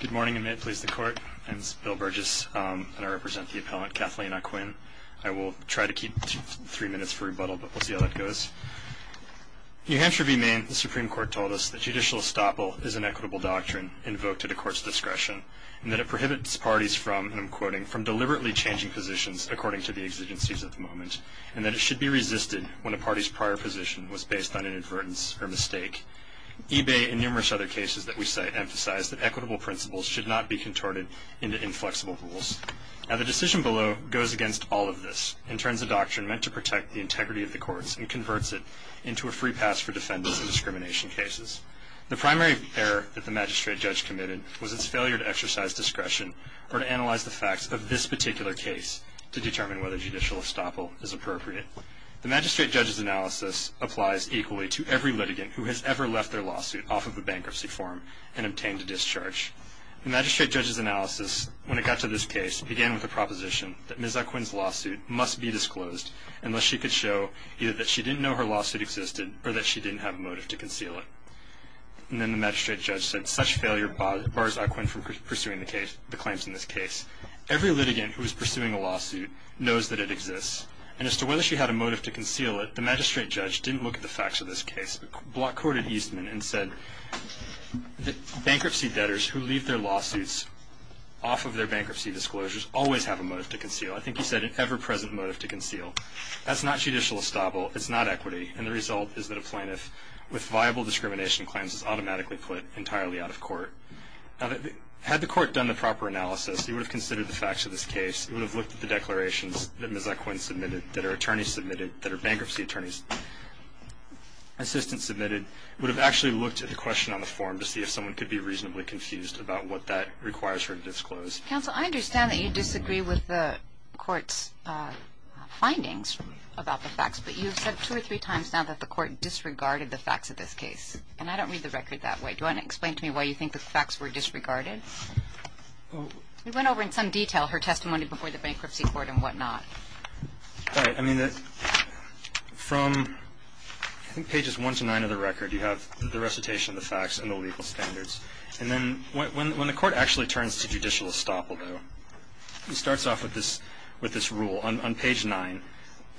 Good morning and may it please the Court. My name is Bill Burgess and I represent the appellant Kathleen Ah Quin. I will try to keep three minutes for rebuttal but we'll see how that goes. In New Hampshire v. Maine, the Supreme Court told us that judicial estoppel is an equitable doctrine invoked at a court's discretion and that it prohibits parties from, and I'm quoting, from deliberately changing positions according to the exigencies at the moment and that it should be resisted when a party's prior position was based on an indiscriminate decision. The Supreme Court, however, in many other cases that we cite, emphasized that equitable principles should not be contorted into inflexible rules. Now the decision below goes against all of this and turns a doctrine meant to protect the integrity of the courts and converts it into a free pass for defendants in discrimination cases. The primary error that the magistrate judge committed was its failure to exercise discretion or to analyze the facts of this particular case to determine whether judicial estoppel is appropriate. The magistrate judge's analysis applies equally to every litigant who has ever left their lawsuit off of a bankruptcy form and obtained a discharge. The magistrate judge's analysis, when it got to this case, began with a proposition that Ms. Oquin's lawsuit must be disclosed unless she could show either that she didn't know her lawsuit existed or that she didn't have a motive to conceal it. And then the magistrate judge said such failure bars Oquin from pursuing the claims in this case. Every litigant who is pursuing a lawsuit knows that it exists and as to whether she had a motive to conceal it, the magistrate judge didn't look at the facts of this case but courted Eastman and said that bankruptcy debtors who leave their lawsuits off of their bankruptcy disclosures always have a motive to conceal. I think he said an ever-present motive to conceal. That's not judicial estoppel. It's not equity. And the result is that a plaintiff with viable discrimination claims is automatically put entirely out of court. Now had the court done the proper analysis, it would have considered the facts of this case. It would have looked at the declarations that Ms. Oquin submitted, that her attorney submitted, that her bankruptcy attorney's assistant submitted, would have actually looked at the question on the form to see if someone could be reasonably confused about what that requires her to disclose. Counsel, I understand that you disagree with the court's findings about the facts, but you've said two or three times now that the court disregarded the facts of this case. And I don't read the record that way. Do you want to explain to me why you think the facts were disregarded? We went over in some detail her testimony before the Bankruptcy Court and whatnot. All right. I mean, from I think pages 1 to 9 of the record, you have the recitation of the facts and the legal standards. And then when the court actually turns to judicial estoppel, though, it starts off with this rule. On page 9,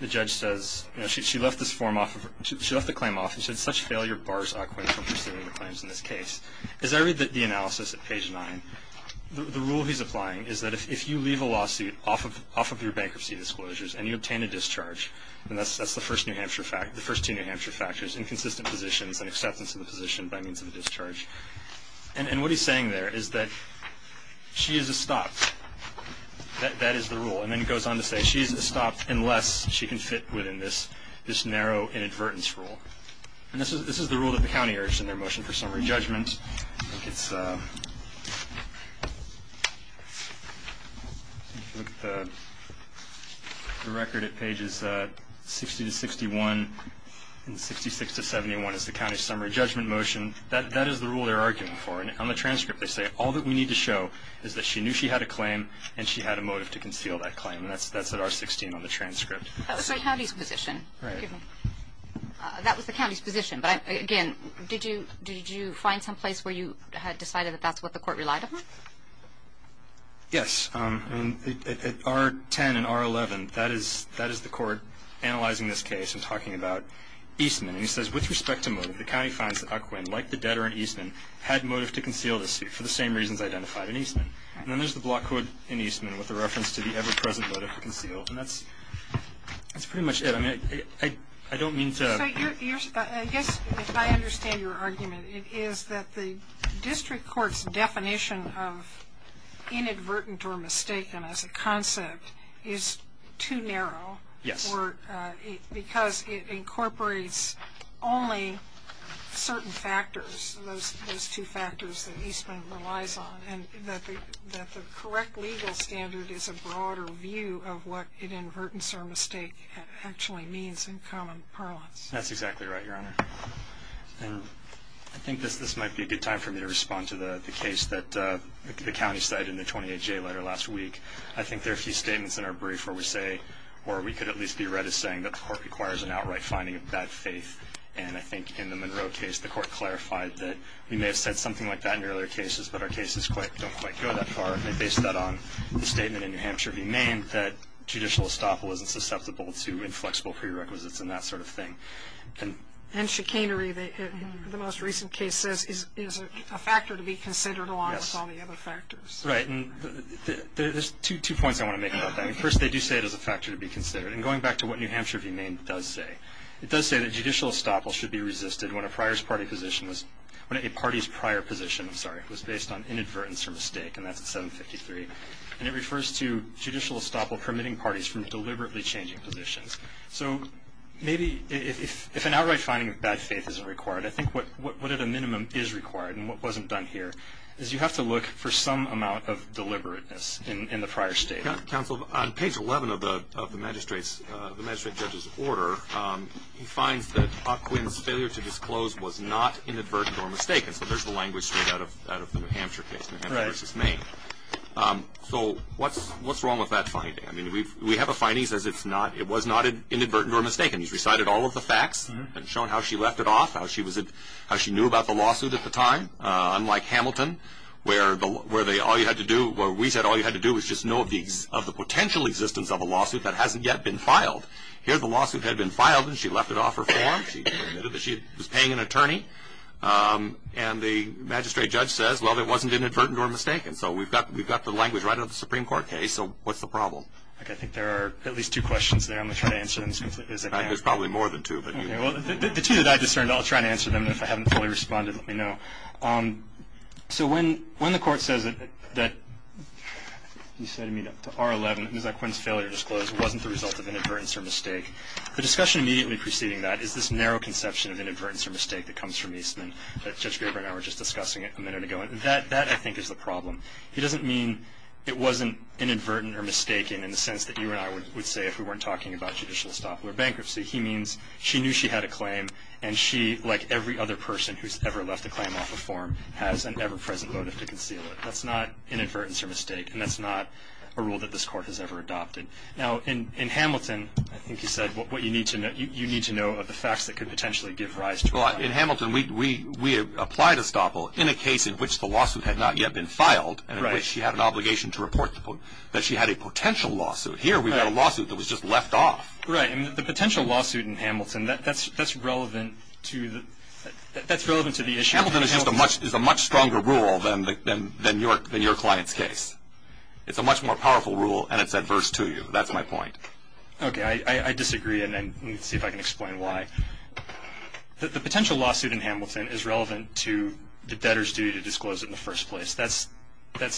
the judge says, you know, she left this form off of her – she left the claim off, and she said, such failure bars Ockwin from pursuing the claims in this case. As I read the analysis at page 9, the rule he's applying is that if you leave a lawsuit off of your bankruptcy disclosures and you obtain a discharge, and that's the first New Hampshire fact – the first two New Hampshire factors, inconsistent positions and acceptance of the position by means of a discharge. And what he's saying there is that she is estopped. That is the rule. And then he goes on to say she is estopped unless she can fit within this narrow inadvertence rule. And this is the rule that the county urged in their motion for summary judgment. If you look at the record at pages 60 to 61 and 66 to 71 is the county's summary judgment motion. That is the rule they're arguing for. And on the transcript, they say all that we need to show is that she knew she had a claim and she had a motive to conceal that claim. And that's at R16 on the transcript. That was the county's position. Right. Excuse me. That was the county's position. But, again, did you find some place where you had decided that that's what the court relied upon? Yes. At R10 and R11, that is the court analyzing this case and talking about Eastman. And he says, with respect to motive, the county finds that Uquin, like the debtor in Eastman, had motive to conceal the suit for the same reasons identified in Eastman. And then there's the block code in Eastman with the reference to the present motive to conceal. And that's pretty much it. I mean, I don't mean to So, I guess if I understand your argument, it is that the district court's definition of inadvertent or mistaken as a concept is too narrow. Yes. Because it incorporates only certain factors, those two factors that Eastman relies on. And that the correct legal standard is a broader view of what inadvertence or mistake actually means in common parlance. That's exactly right, Your Honor. And I think this might be a good time for me to respond to the case that the county cited in the 28-J letter last week. I think there are a few statements in our brief where we say, or we could at least be read as saying, that the court requires an outright finding of bad faith. And I think in the Monroe case, the court clarified that we may have said something like that in earlier cases, but our cases don't quite go that far. And they base that on the statement in New Hampshire v. Maine that judicial estoppel isn't susceptible to inflexible prerequisites and that sort of thing. And chicanery, the most recent case says, is a factor to be considered along with all the other factors. Right. And there's two points I want to make about that. First, they do say it is a factor to be considered. And going back to what New Hampshire v. Maine does say, it does say that judicial estoppel should be resisted when a party's prior position was based on inadvertence or mistake. And that's at 753. And it refers to judicial estoppel permitting parties from deliberately changing positions. So maybe if an outright finding of bad faith isn't required, I think what at a minimum is required and what wasn't done here is you have to look for some amount of deliberateness in the prior state. Counsel, on page 11 of the magistrate judge's order, he finds that Ockwin's failure to disclose was not inadvertent or mistaken. So there's the language straight out of the New Hampshire case, New Hampshire v. Maine. So what's wrong with that finding? I mean, we have a finding that says it was not inadvertent or mistaken. He's recited all of the facts and shown how she left it off, how she knew about the lawsuit at the time, unlike Hamilton, where we said all you had to do was just know of the potential existence of a lawsuit that hasn't yet been filed. Here the lawsuit had been filed and she left it off her form. She admitted that she was paying an attorney. And the magistrate judge says, well, it wasn't inadvertent or mistaken. So we've got the language right out of the Supreme Court case. So what's the problem? I think there are at least two questions there. I'm going to try to answer them as quickly as I can. There's probably more than two. The two that I discerned, I'll try to answer them. If I haven't fully responded, let me know. So when the court says that, you said to me, to R11, that Ockwin's failure to disclose wasn't the result of inadvertence or mistake, the discussion immediately preceding that is this narrow conception of inadvertence or mistake that comes from Eastman that Judge Graber and I were just discussing a minute ago. And that, I think, is the problem. It doesn't mean it wasn't inadvertent or mistaken in the sense that you and I would say if we weren't talking about judicial estoppel or bankruptcy. He means she knew she had a claim. And she, like every other person who's ever left a claim off a form, has an ever-present motive to conceal it. That's not inadvertence or mistake. And that's not a rule that this you need to know of the facts that could potentially give rise to it. Well, in Hamilton, we applied estoppel in a case in which the lawsuit had not yet been filed and in which she had an obligation to report that she had a potential lawsuit. Here, we've got a lawsuit that was just left off. Right. And the potential lawsuit in Hamilton, that's relevant to the issue. Hamilton is a much stronger rule than your client's case. It's a much more powerful rule, and it's adverse to you. That's my point. Okay. I disagree, and let me see if I can explain why. The potential lawsuit in Hamilton is relevant to the debtor's duty to disclose it in the first place. That's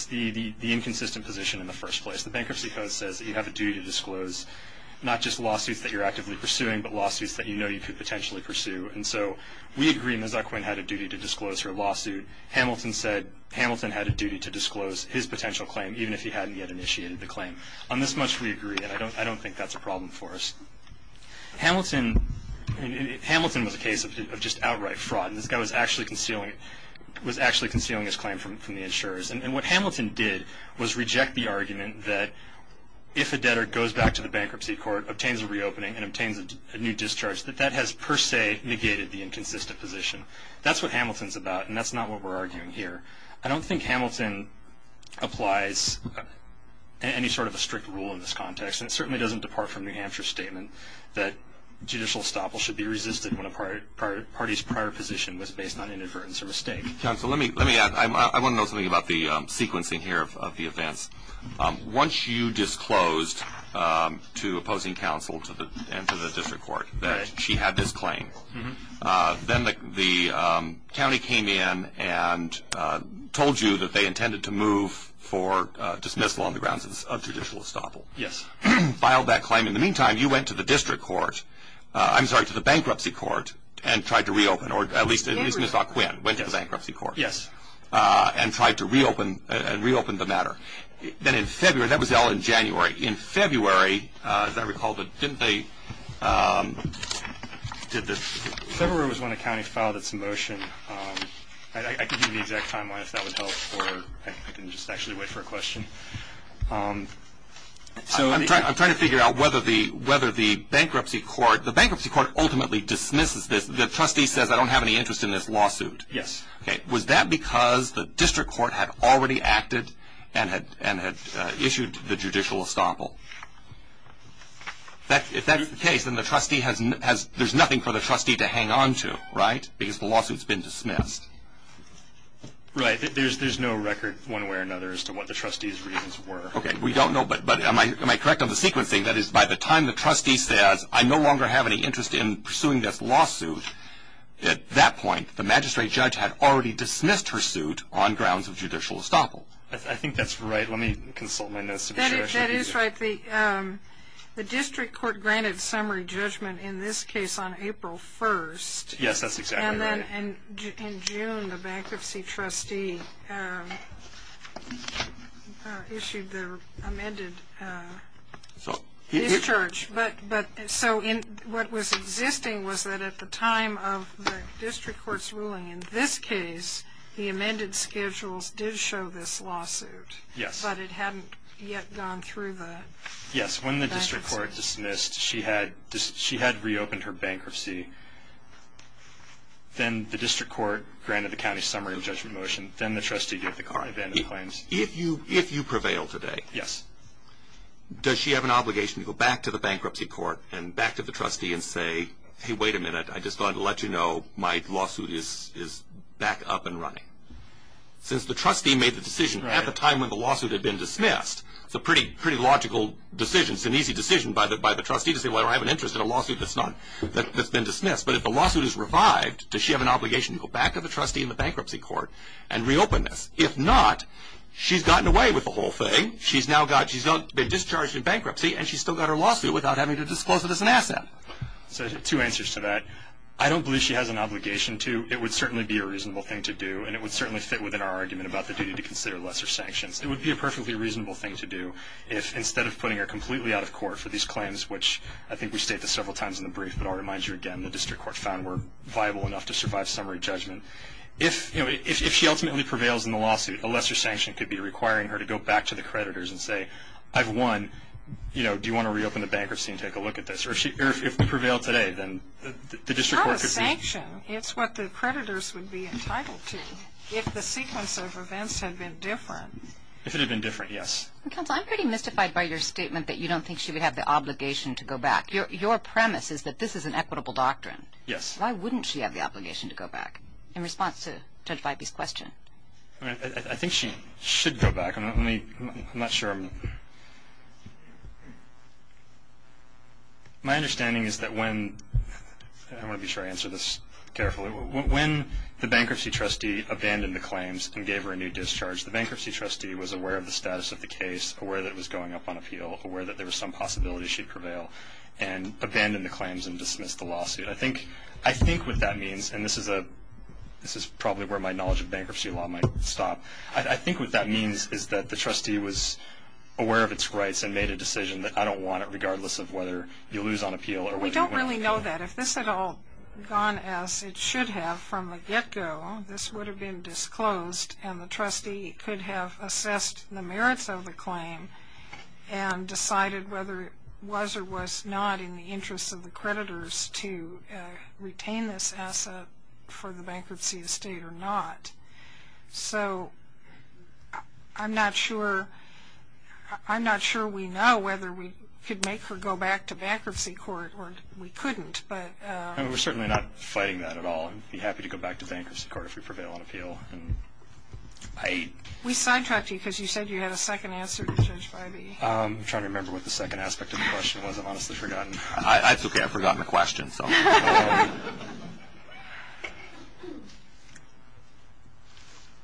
the inconsistent position in the first place. The Bankruptcy Code says that you have a duty to disclose not just lawsuits that you're actively pursuing, but lawsuits that you know you could potentially pursue. And so we agree Ms. Zuckwin had a duty to disclose her lawsuit. Hamilton said Hamilton had a duty to disclose his potential claim, even if he hadn't yet initiated the claim. On this much we agree, and I don't think that's a problem for us. Hamilton was a case of just outright fraud, and this guy was actually concealing his claim from the insurers. And what Hamilton did was reject the argument that if a debtor goes back to the Bankruptcy Court, obtains a reopening, and obtains a new discharge, that that has per se negated the inconsistent position. That's what Hamilton's about, and that's not what we're arguing here. I don't think Hamilton applies any sort of a strict rule in this context, and it certainly doesn't depart from New Hampshire's statement that judicial estoppel should be resisted when a party's prior position was based on inadvertence or mistake. Counsel, let me add, I want to know something about the sequencing here of the offense. Once you disclosed to opposing counsel and to the district court that she had this claim, then the county came in and told you that they intended to move for dismissal on the grounds of judicial estoppel. Yes. Filed that claim. In the meantime, you went to the district court, I'm sorry, to the Bankruptcy Court, and tried to reopen, or at least went to the Bankruptcy Court. Yes. And tried to reopen and reopen the matter. Then in February, that was all in January. In February, as I recall, but didn't they did this? February was when the county filed its motion. I can give you the exact timeline if that would help, or I can just actually wait for a question. So I'm trying to figure out whether the Bankruptcy Court, the Bankruptcy Court ultimately dismisses this. The trustee says, I don't have any interest in this lawsuit. Yes. Okay. Was that because the district court had already acted and had issued the judicial estoppel? If that's the case, then the trustee has, there's nothing for the trustee to hang on to, right? Because the lawsuit's been dismissed. Right. There's no record, one way or another, as to what the trustee's reasons were. Okay. We don't know, but am I correct on the sequencing? That is, by the time the trustee says, I no longer have any interest in pursuing this lawsuit, at that point, the magistrate judge had already dismissed her suit on grounds of judicial estoppel. I think that's right. Let me consult my notes. That is right. The district court granted summary judgment, in this case, on April 1st. Yes, that's exactly right. And in June, the bankruptcy trustee issued the amended discharge. So what was existing was that at the time of the district court's ruling, in this case, the amended schedules did show this lawsuit. Yes. But it hadn't yet gone through the bankruptcy. Yes, when the she had reopened her bankruptcy, then the district court granted the county summary of judgment motion, then the trustee gave the claim. If you prevail today, yes, does she have an obligation to go back to the bankruptcy court and back to the trustee and say, hey, wait a minute, I just wanted to let you know my lawsuit is back up and running? Since the trustee made the decision at the time when the lawsuit had been dismissed, it's a pretty logical decision. It's an easy decision by the trustee to say, well, I have an interest in a lawsuit that's been dismissed. But if the lawsuit is revived, does she have an obligation to go back to the trustee in the bankruptcy court and reopen this? If not, she's gotten away with the whole thing. She's now been discharged in bankruptcy, and she's still got her lawsuit without having to disclose it as an asset. So two answers to that. I don't believe she has an obligation to. It would certainly be a reasonable thing to do, and it would certainly fit within our argument about the duty to consider lesser sanctions. It would be a perfectly reasonable thing to do if, instead of putting her completely out of court for these claims, which I think we stated several times in the brief, but I'll remind you again, the district court found were viable enough to survive summary judgment. If she ultimately prevails in the lawsuit, a lesser sanction could be requiring her to go back to the creditors and say, I've won, you know, do you want to reopen the bankruptcy and take a look at this? Or if we prevail today, then the district court could be... From a sanction, it's what the creditors would be entitled to. If the creditors had been different. If it had been different, yes. Counsel, I'm pretty mystified by your statement that you don't think she would have the obligation to go back. Your premise is that this is an equitable doctrine. Yes. Why wouldn't she have the obligation to go back, in response to Judge Vibey's question? I think she should go back. I'm not sure. My understanding is that when... I want to be sure I answer this carefully. When the bankruptcy trustee abandoned the claims and gave her a new discharge, the bankruptcy trustee was aware of the status of the case, aware that it was going up on appeal, aware that there was some possibility she'd prevail, and abandoned the claims and dismissed the lawsuit. I think what that means, and this is a... This is probably where my knowledge of bankruptcy law might stop. I think what that means is that the trustee was aware of its rights and made a decision that I don't want it, regardless of whether you lose on appeal or whether you win on appeal. We don't really know that. If this had all gone as it should have from the trustee could have assessed the merits of the claim and decided whether it was or was not in the interests of the creditors to retain this asset for the bankruptcy estate or not. So I'm not sure... I'm not sure we know whether we could make her go back to bankruptcy court or we couldn't, but... We're certainly not fighting that at all and be happy to go back to bankruptcy court if we prevail on appeal. I... We sidetracked you because you said you had a second answer to Judge Bybee. I'm trying to remember what the second aspect of the question was. I've honestly forgotten. It's okay, I've forgotten the question.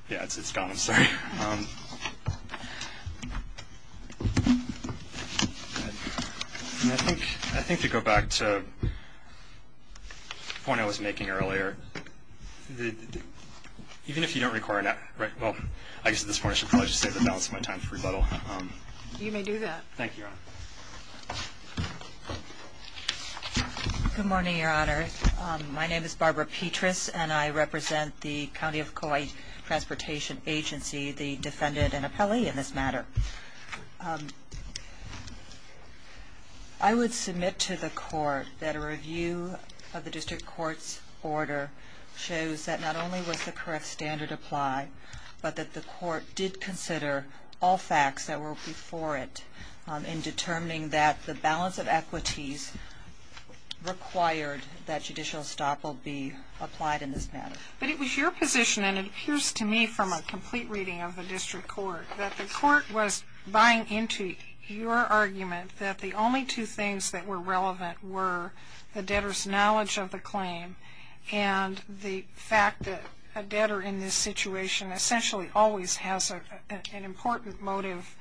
Yeah, it's gone, I'm sorry. I think to go back to the point I was making earlier, even if you don't require an app... Right, well, I guess at this point I should probably just say that now is my time for rebuttal. You may do that. Thank you, Your Honor. Good morning, Your Honor. My name is Barbara Petras and I represent the County of Kauai Transportation Agency, the defendant and appellee in this matter. I would submit to the court that a review of the district court's order shows that not only was the correct standard applied, but that the court did consider all facts that were before it in determining that the balance of equities required that judicial stop will be applied in this matter. But it was your position, and it appears to me from a complete reading of the district court, that the court was buying into your argument that the only two things that were relevant were the debtor's knowledge of the claim and the fact that a debtor in this situation essentially always has an important motive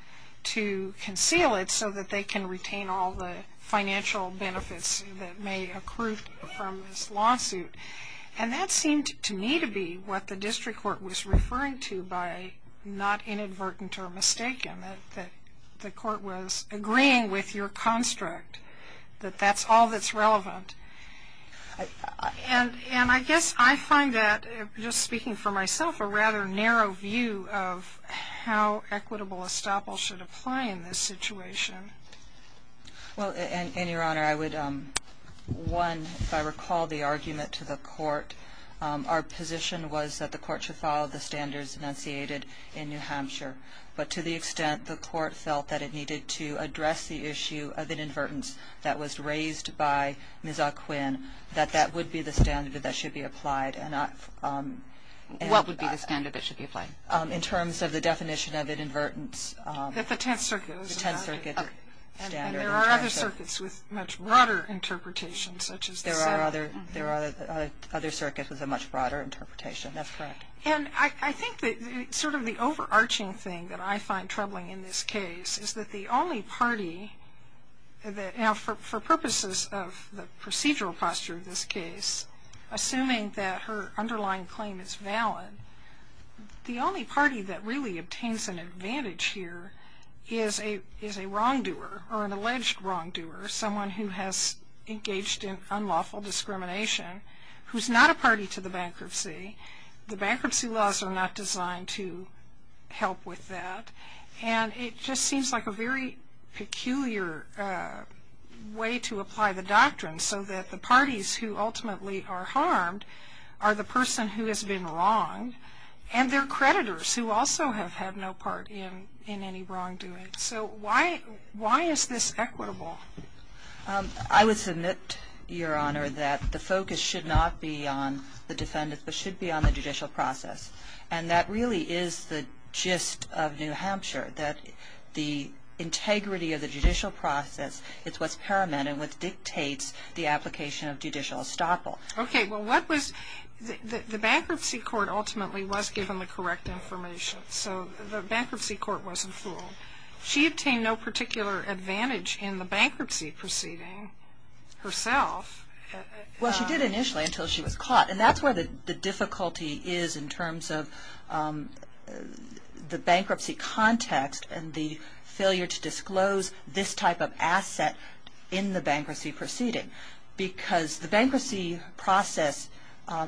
to conceal it so that they can retain all the financial benefits that may accrue from this lawsuit. And that seemed to me to be what the district court was referring to by not inadvertent or mistaken, that the court was agreeing with your construct, that that's all that's relevant. And I guess I find that, just speaking for myself, a rather narrow view of how equitable estoppel should apply in this situation. Well, and, Your Honor, I would, one, if I recall the argument to the court, our position was that the court should follow the standards enunciated in New Hampshire. But to the extent the court felt that it needed to address the issue of inadvertence that was raised by Ms. O'Quinn, that that would be the standard that should be applied. What would be the standard that should be applied? In terms of the definition of inadvertence. That the Tenth Circuit was not. The Tenth Circuit standard. And there are other circuits with much broader interpretations, such as the Seventh. There are other circuits with a much broader interpretation. That's correct. And I think that sort of the overarching thing that I find troubling in this case is that the only party that, now, for purposes of the procedural posture of this case, assuming that her underlying claim is valid, the only party that really obtains an advantage here is a wrongdoer, or an alleged wrongdoer. Someone who has engaged in unlawful discrimination. Who's not a party to the bankruptcy. The bankruptcy laws are not designed to help with that. And it just seems like a very peculiar way to apply the doctrine so that the parties who ultimately are harmed are the person who has been wronged. And they're creditors who also have had no part in any wrongdoing. So why is this equitable? I would submit, Your Honor, that the focus should not be on the defendant, but should be on the judicial process. And that really is the gist of New Hampshire. That the integrity of the judicial process is what's paramount and what dictates the application of judicial estoppel. Okay. Well, what was the bankruptcy court ultimately was given the correct information. So the bankruptcy court wasn't fooled. She obtained no particular advantage in the bankruptcy proceeding herself. Well, she did initially until she was caught. And that's where the difficulty is in terms of the bankruptcy context and the failure to disclose this type of asset in the bankruptcy proceeding. Because the bankruptcy process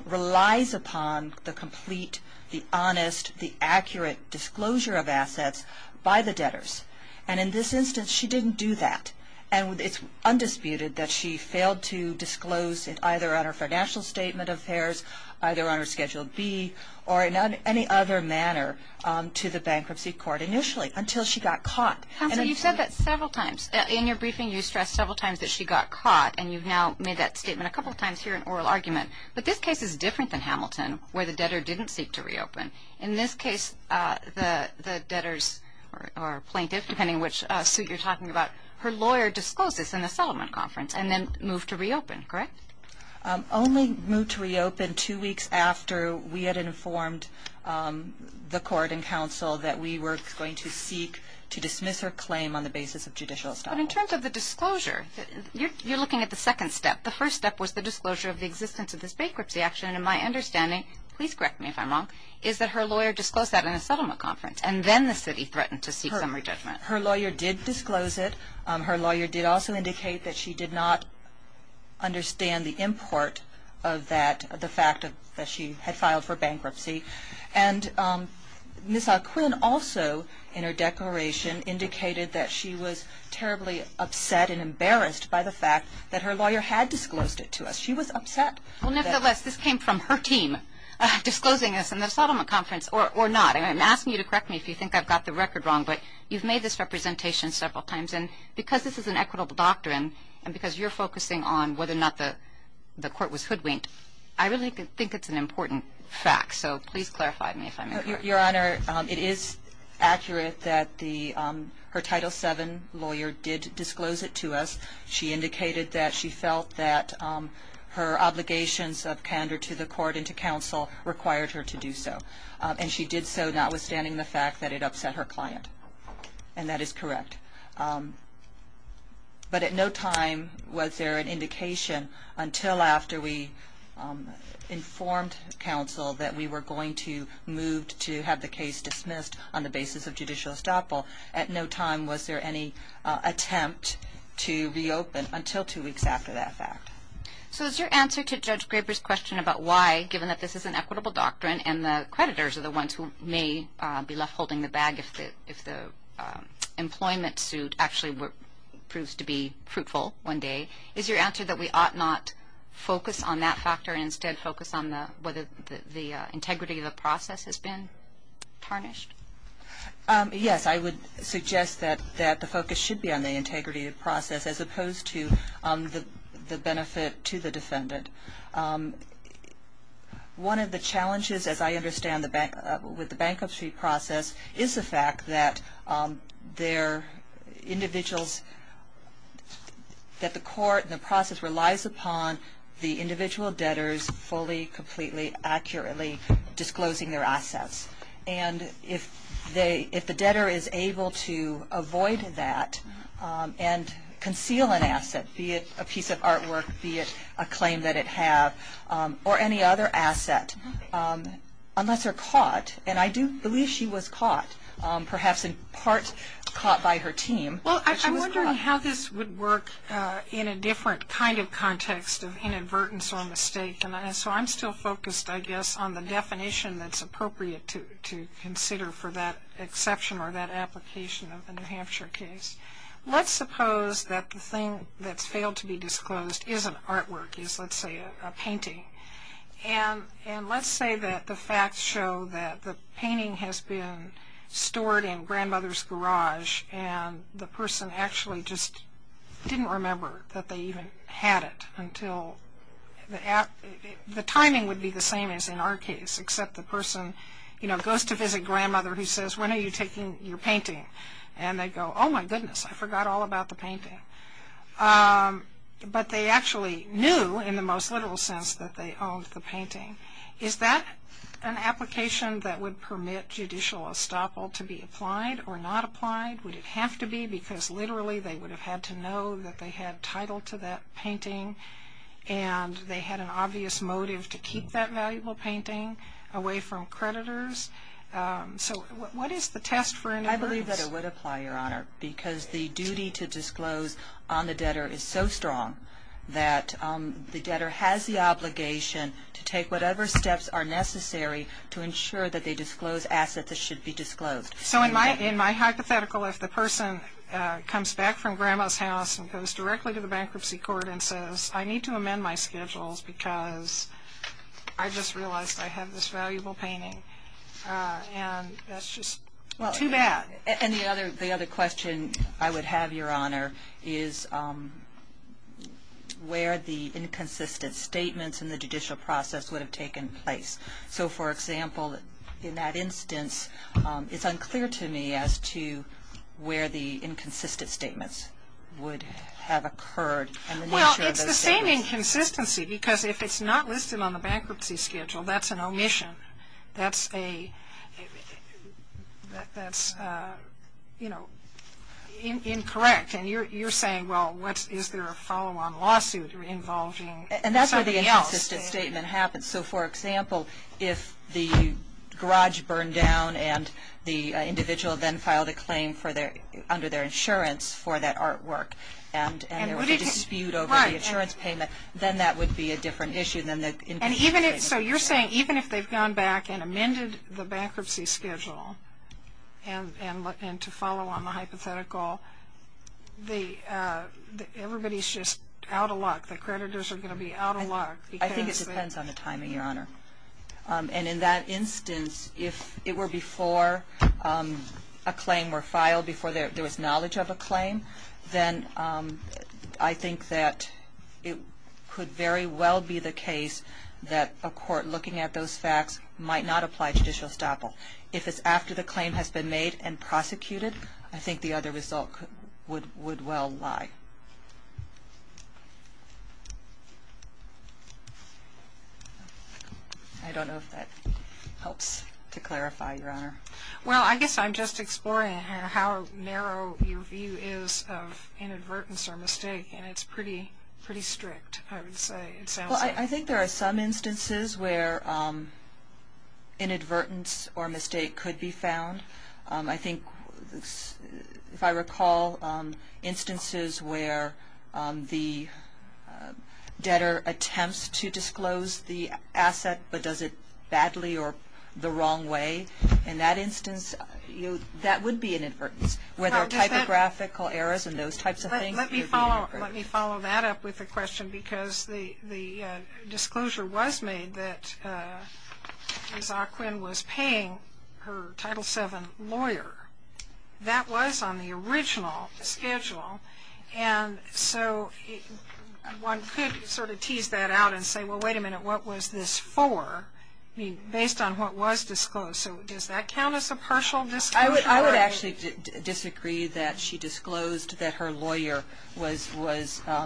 relies upon the complete, the honest, the accurate disclosure of assets by the debtors. And in this instance, she didn't do that. And it's undisputed that she failed to disclose either on her financial statement of affairs, either on her Schedule B, or in any other manner to the bankruptcy court initially until she got caught. Counsel, you've said that several times. In your briefing, you stressed several times that she got caught. And you've now made that statement a couple times here in oral argument. But this case is different than Hamilton, where the debtor didn't seek to reopen. In this case, the debtors or plaintiff, depending on which suit you're talking about, her lawyer discloses in the Solomon Conference and then moved to reopen, correct? Only moved to reopen two weeks after we had informed the court and counsel that we were going to seek to dismiss her claim on the basis of judicial establishment. But in terms of the disclosure, you're looking at the second step. The first step was the disclosure of the existence of this bankruptcy action. And my understanding, please correct me if I'm wrong, is that her lawyer disclosed that in the Solomon Conference. And then the city threatened to seek summary judgment. Her lawyer did disclose it. Her lawyer did also indicate that she did not understand the import of the fact that she had filed for bankruptcy. And Ms. Alquin also, in her declaration, indicated that she was terribly upset and embarrassed by the fact that her lawyer had disclosed it to us. She was upset. Well, nevertheless, this came from her team disclosing this in the Solomon Conference or not. I'm asking you to correct me if you think I've got the record wrong. But you've made this representation several times. And because this is an equitable doctrine and because you're focusing on whether or not the court was hoodwinked, I really think it's an important fact. So please clarify to me if I'm incorrect. Your Honor, it is accurate that her Title VII lawyer did disclose it to us. She indicated that she felt that her obligations of candor to the court and to counsel required her to do so. And she did so notwithstanding the fact that it upset her client. And that is correct. But at no time was there an indication until after we informed counsel that we were going to move to have the case dismissed on the basis of judicial estoppel. At no time was there any attempt to reopen until two weeks after that fact. So is your answer to Judge Graber's question about why, given that this is an equitable doctrine and the creditors are the ones who may be left holding the bag if the employment suit actually proves to be fruitful one day, is your answer that we ought not focus on that factor and instead focus on whether the integrity of the process has been tarnished? Yes. I would suggest that the focus should be on the integrity of the process as opposed to the benefit to the defendant. One of the challenges, as I understand, with the bankruptcy process is the fact that individuals, that the court and the process relies upon the individual debtors fully, completely, accurately disclosing their assets. And if the debtor is able to avoid that and conceal an asset, be it a piece of artwork, be it a claim that it had, or any other asset, unless they're caught, and I do believe she was caught, perhaps in part caught by her team. Well, I'm wondering how this would work in a different kind of context of inadvertence or mistake. And so I'm still focused, I guess, on the definition that's appropriate to consider for that exception or that application of the New Hampshire case. Let's suppose that the thing that's failed to be disclosed is an artwork, is, let's say, a painting. And let's say that the facts show that the painting has been stored in grandmother's garage and the person actually just didn't remember that they even had it until, the timing would be the same as in our case, except the person, you know, goes to visit grandmother who says, when are you taking your painting? And they go, oh, my goodness, I forgot all about the painting. But they actually knew in the most literal sense that they owned the painting. Is that an application that would permit judicial estoppel to be applied or not applied? Would it have to be? Because literally they would have had to know that they had title to that painting and they had an obvious motive to keep that valuable painting away from creditors. So what is the test for inadvertence? I believe that it would apply, Your Honor, because the duty to disclose on the debtor is so strong that the debtor has the obligation to take whatever steps are necessary to ensure that they disclose assets that should be disclosed. So in my hypothetical, if the person comes back from grandma's house and goes directly to the bankruptcy court and says, I need to amend my schedules because I just realized I have this valuable painting, and that's just too bad. And the other question I would have, Your Honor, is where the inconsistent statements in the judicial process would have taken place. So, for example, in that instance, it's unclear to me as to where the inconsistent statements would have occurred. Well, it's the same inconsistency because if it's not listed on the bankruptcy schedule, that's an omission, that's, you know, incorrect. And you're saying, well, is there a follow-on lawsuit involving somebody else? And that's where the inconsistent statement happens. So, for example, if the garage burned down and the individual then filed a claim under their insurance for that artwork and there was a dispute over the insurance payment, then that would be a different issue than the inconsistent statement. And so you're saying even if they've gone back and amended the bankruptcy schedule and to follow on the hypothetical, everybody's just out of luck, the creditors are going to be out of luck. I think it depends on the timing, Your Honor. And in that instance, if it were before a claim were filed, before there was knowledge of a claim, then I think that it could very well be the case that a court looking at those facts might not apply judicial estoppel. If it's after the claim has been made and prosecuted, I think the other result would well lie. I don't know if that helps to clarify, Your Honor. Well, I guess I'm just exploring how narrow your view is of inadvertence or mistake, and it's pretty strict, I would say. Well, I think there are some instances where inadvertence or mistake could be found. I think if I recall, instances where the debtor attempts to disclose the asset but does it badly or the wrong way, in that instance, that would be an inadvertence. Where there are typographical errors and those types of things, it would be an inadvertence. Let me follow that up with a question because the disclosure was made that Ms. Ockwin was paying her Title VII lawyer. That was on the original schedule, and so one could sort of tease that out and say, well, wait a minute, what was this for, based on what was disclosed? So does that count as a partial disclosure? I would actually disagree that she disclosed that her lawyer was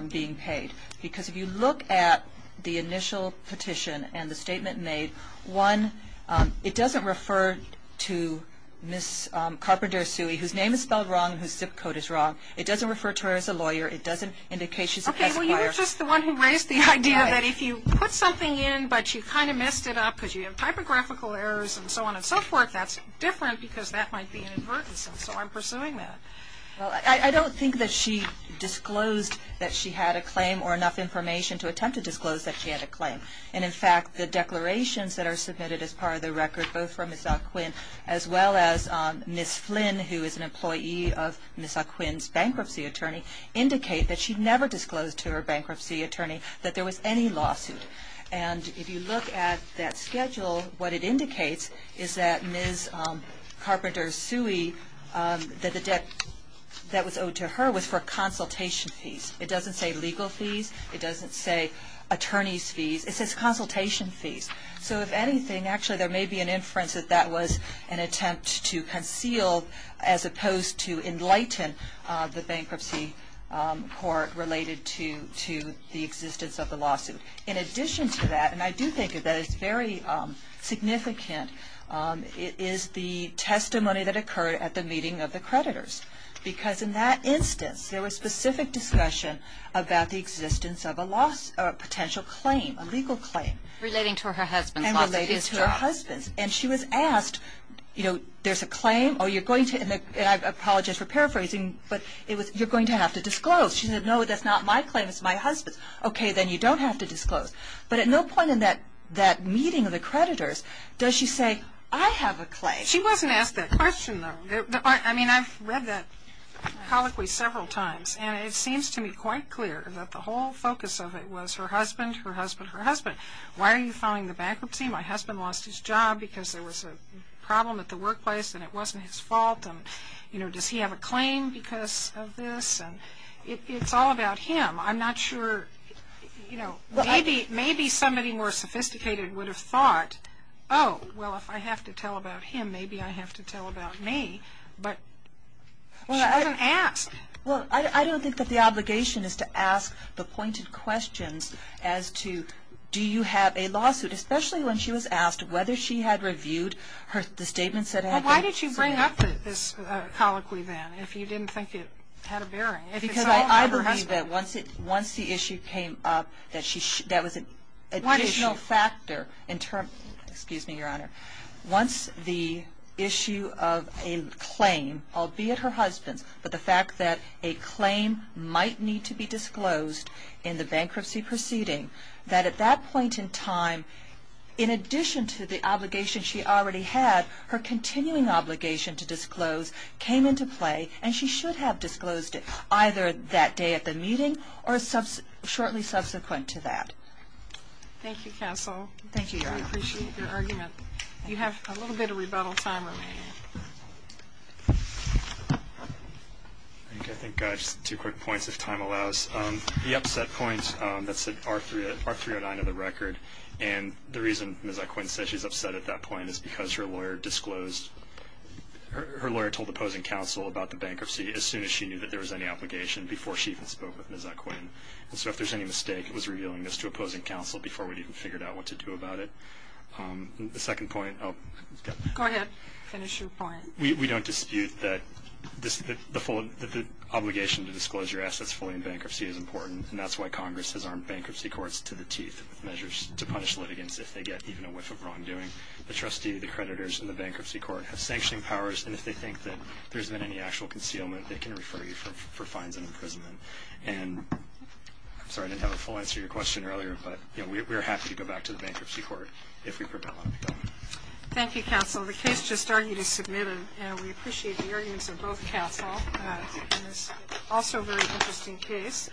being paid because if you look at the initial petition and the statement made, one, it doesn't refer to Ms. Carpenter Suey, whose name is spelled wrong, whose zip code is wrong. It doesn't refer to her as a lawyer. It doesn't indicate she's a peasant buyer. Well, you were just the one who raised the idea that if you put something in, but you kind of messed it up because you have typographical errors and so on and so forth, that's different because that might be an inadvertence, and so I'm pursuing that. Well, I don't think that she disclosed that she had a claim or enough information to attempt to disclose that she had a claim. And, in fact, the declarations that are submitted as part of the record, both from Ms. Ockwin as well as Ms. Flynn, who is an employee of Ms. Ockwin's bankruptcy attorney, indicate that she never disclosed to her bankruptcy attorney that there was any lawsuit. And if you look at that schedule, what it indicates is that Ms. Carpenter Suey, that the debt that was owed to her was for consultation fees. It doesn't say legal fees. It doesn't say attorney's fees. It says consultation fees. So, if anything, actually there may be an inference that that was an attempt to conceal as opposed to enlighten the bankruptcy court related to the existence of the lawsuit. In addition to that, and I do think that it's very significant, is the testimony that occurred at the meeting of the creditors because in that instance there was specific discussion about the existence of a potential claim, a legal claim. Relating to her husband's lawsuit. And relating to her husband's. And she was asked, you know, there's a claim, and I apologize for paraphrasing, but you're going to have to disclose. She said, no, that's not my claim, it's my husband's. Okay, then you don't have to disclose. But at no point in that meeting of the creditors does she say, I have a claim. She wasn't asked that question, though. I mean, I've read that colloquy several times, and it seems to me quite clear that the whole focus of it was her husband, her husband, her husband. Why are you filing the bankruptcy? My husband lost his job because there was a problem at the workplace and it wasn't his fault. You know, does he have a claim because of this? It's all about him. I'm not sure, you know, maybe somebody more sophisticated would have thought, oh, well, if I have to tell about him, maybe I have to tell about me. But she wasn't asked. Well, I don't think that the obligation is to ask the pointed questions as to do you have a lawsuit, especially when she was asked whether she had reviewed the statements that had been submitted. Well, why did you bring up this colloquy, then, if you didn't think it had a bearing? Because I believe that once the issue came up, that was an additional factor. Excuse me, Your Honor. Once the issue of a claim, albeit her husband's, but the fact that a claim might need to be disclosed in the bankruptcy proceeding, that at that point in time, in addition to the obligation she already had, her continuing obligation to disclose came into play, and she should have disclosed it either that day at the meeting or shortly subsequent to that. Thank you, counsel. Thank you, Your Honor. We appreciate your argument. You have a little bit of rebuttal time remaining. I think just two quick points, if time allows. The upset point, that's at R309 of the record, and the reason Ms. Equin says she's upset at that point is because her lawyer disclosed, her lawyer told opposing counsel about the bankruptcy as soon as she knew that there was any obligation, before she even spoke with Ms. Equin. And so if there's any mistake, it was revealing this to opposing counsel before we'd even figured out what to do about it. The second point, oh. Go ahead. Finish your point. We don't dispute that the obligation to disclose your assets fully in bankruptcy is important, and that's why Congress has armed bankruptcy courts to the teeth with measures to punish litigants if they get even a whiff of wrongdoing. The trustee, the creditors, and the bankruptcy court have sanctioning powers, and if they think that there's been any actual concealment, they can refer you for fines and imprisonment. And I'm sorry, I didn't have a full answer to your question earlier, but we are happy to go back to the bankruptcy court if we prevail on the government. Thank you, counsel. Well, the case just argued is submitted, and we appreciate the arguments of both counsel. It's also a very interesting case.